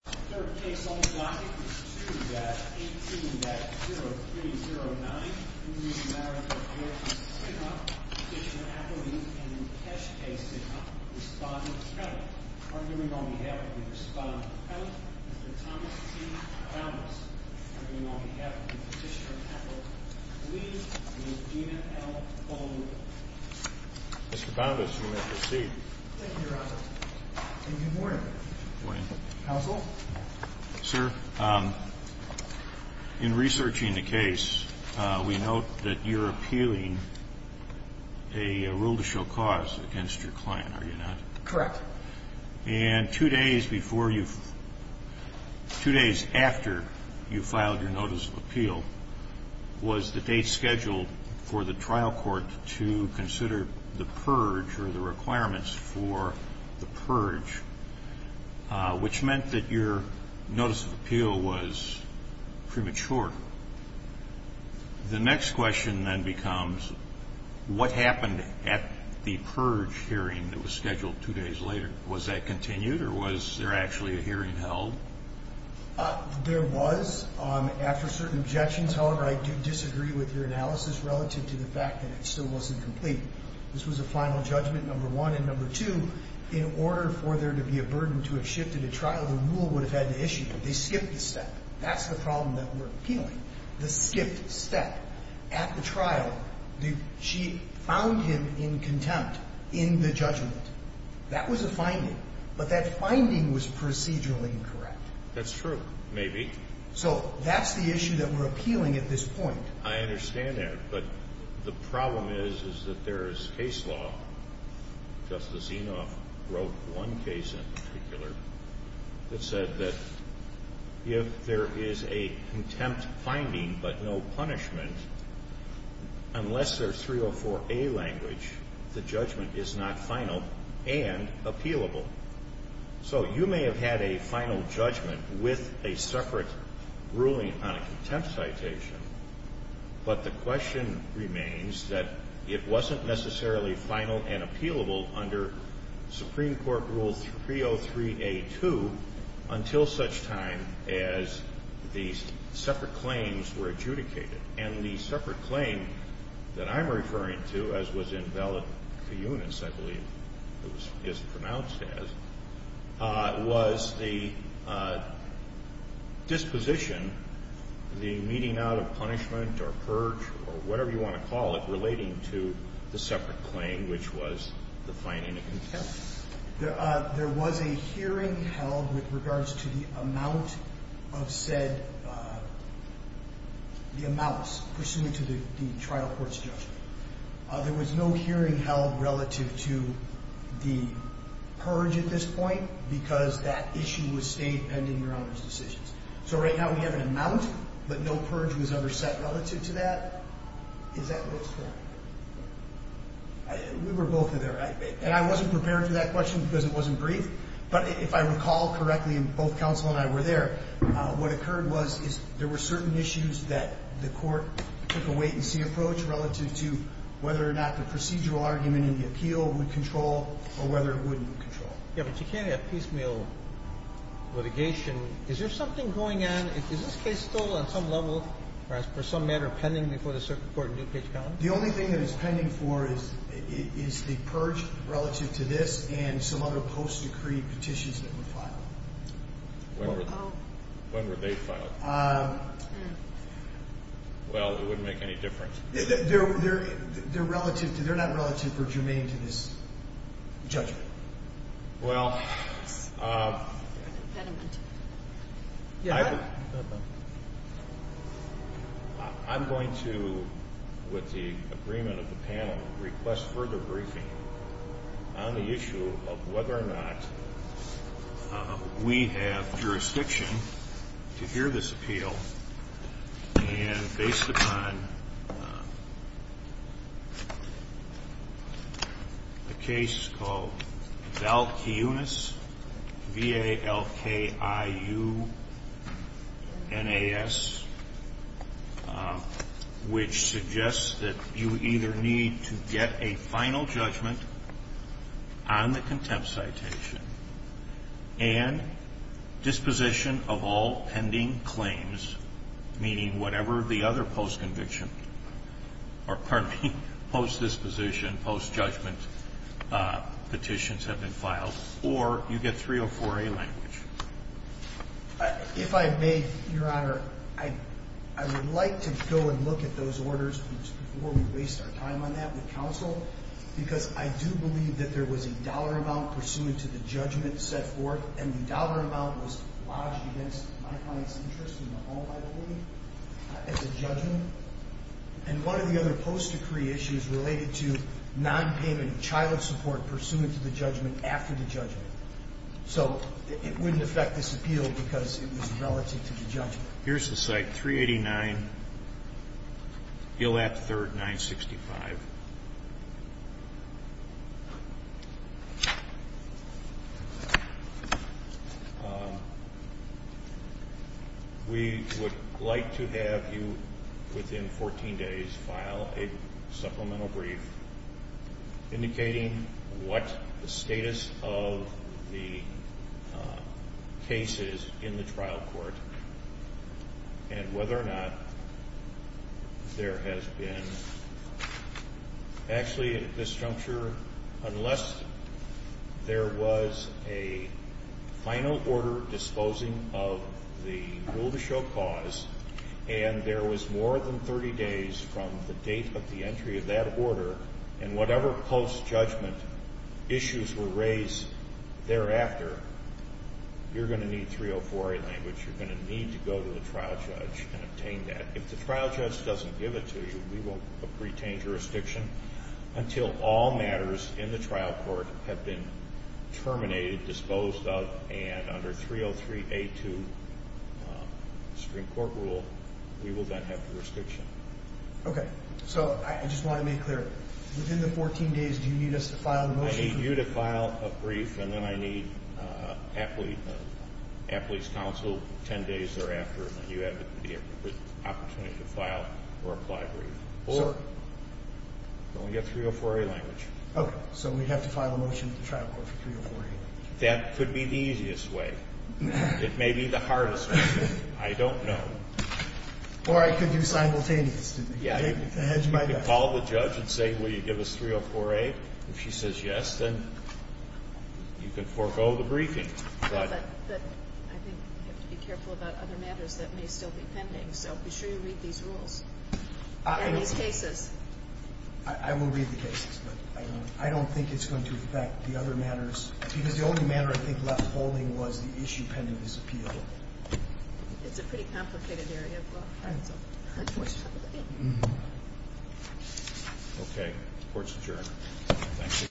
The third case on the block is 2-18-0309 in re Marriage of George and Sinha, Petitioner Appleby and Keshe K. Sinha respond to the penalty. Arguing on behalf of the respondent to the penalty, Mr. Thomas T. Boundas. Arguing on behalf of the Petitioner Appleby, Ms. Gina L. Bowman. Mr. Boundas, you may proceed. Thank you, Your Honor. Good morning. Good morning. Counsel? Sir, in researching the case, we note that you're appealing a rule to show cause against your client, are you not? Correct. And two days after you filed your notice of appeal was the date scheduled for the trial court to consider the purge or the requirements for the purge, which meant that your notice of appeal was premature. The next question then becomes, what happened at the purge hearing that was scheduled two days later? Was that continued or was there actually a hearing held? There was. After certain objections, however, I do disagree with your analysis relative to the fact that it still wasn't complete. This was a final judgment, number one. And number two, in order for there to be a burden to have shifted a trial, the rule would have had to issue it. They skipped a step. That's the problem that we're appealing, the skipped step. At the trial, she found him in contempt in the judgment. That was a finding. But that finding was procedurally incorrect. That's true, maybe. So that's the issue that we're appealing at this point. I understand that. But the problem is, is that there is case law. Justice Enoff wrote one case in particular that said that if there is a contempt finding but no punishment, unless there's 304A language, the judgment is not final and appealable. So you may have had a final judgment with a separate ruling on a contempt citation. But the question remains that it wasn't necessarily final and appealable under Supreme Court Rule 303A2 until such time as the separate claims were adjudicated. And the separate claim that I'm referring to, as was invalid for eunuchs, I believe it was pronounced as, was the disposition, the meeting out of punishment or purge or whatever you want to call it, relating to the separate claim, which was the finding of contempt. There was a hearing held with regards to the amount of said, the amounts pursuant to the trial court's judgment. There was no hearing held relative to the purge at this point because that issue was stayed pending Your Honor's decisions. So right now we have an amount, but no purge was ever set relative to that. Is that what it's for? We were both in there. And I wasn't prepared for that question because it wasn't brief. But if I recall correctly, and both counsel and I were there, what occurred was there were certain issues that the court took a wait-and-see approach relative to whether or not the procedural argument in the appeal would control or whether it wouldn't control. Yeah, but you can't have piecemeal litigation. Is there something going on? Is this case still on some level or as per some matter pending before the circuit court in Newcage County? The only thing that it's pending for is the purge relative to this and some other post-decreed petitions that were filed. When were they filed? Well, it wouldn't make any difference. They're not relative or germane to this judgment. Well, I'm going to, with the agreement of the panel, request further briefing on the issue of whether or not we have jurisdiction to hear this appeal. And based upon a case called Valkiunas, V-A-L-K-I-U-N-A-S, which suggests that you either need to get a final judgment on the contempt citation and disposition of all pending claims, meaning whatever the other post-conviction or, pardon me, post-disposition, post-judgment petitions have been filed, or you get 304-A language. If I may, Your Honor, I would like to go and look at those orders before we waste our time on that with counsel because I do believe that there was a dollar amount pursuant to the judgment set forth, and the dollar amount was lodged against my client's interest in the whole, I believe, as a judgment. And one of the other post-decree issues related to nonpayment of child support pursuant to the judgment after the judgment. So it wouldn't affect this appeal because it was relative to the judgment. Here's the site, 389 Gillette 3rd, 965. We would like to have you, within 14 days, file a supplemental brief indicating what the status of the cases in the trial court and whether or not there has been, actually, at this juncture, unless there was a final order disposing of the rule-to-show cause and there was more than 30 days from the date of the entry of that order and whatever post-judgment issues were raised thereafter, you're going to need 304A language. You're going to need to go to the trial judge and obtain that. If the trial judge doesn't give it to you, we will retain jurisdiction until all matters in the trial court have been terminated, disposed of, and under 303A2 Supreme Court rule, we will then have jurisdiction. Okay. So I just want to make clear, within the 14 days, do you need us to file the motion? I need you to file a brief, and then I need Appley's counsel 10 days thereafter, and then you have the opportunity to file or apply a brief. So? You only get 304A language. Okay. So we'd have to file a motion at the trial court for 304A. That could be the easiest way. It may be the hardest way. I don't know. Or I could do simultaneous. You could call the judge and say, Will you give us 304A? If she says yes, then you can forego the briefing. But I think we have to be careful about other matters that may still be pending. So be sure you read these rules and these cases. I will read the cases, but I don't think it's going to affect the other matters, because the only matter I think left holding was the issue pending this appeal. It's a pretty complicated area of law. Okay. Court's adjourned.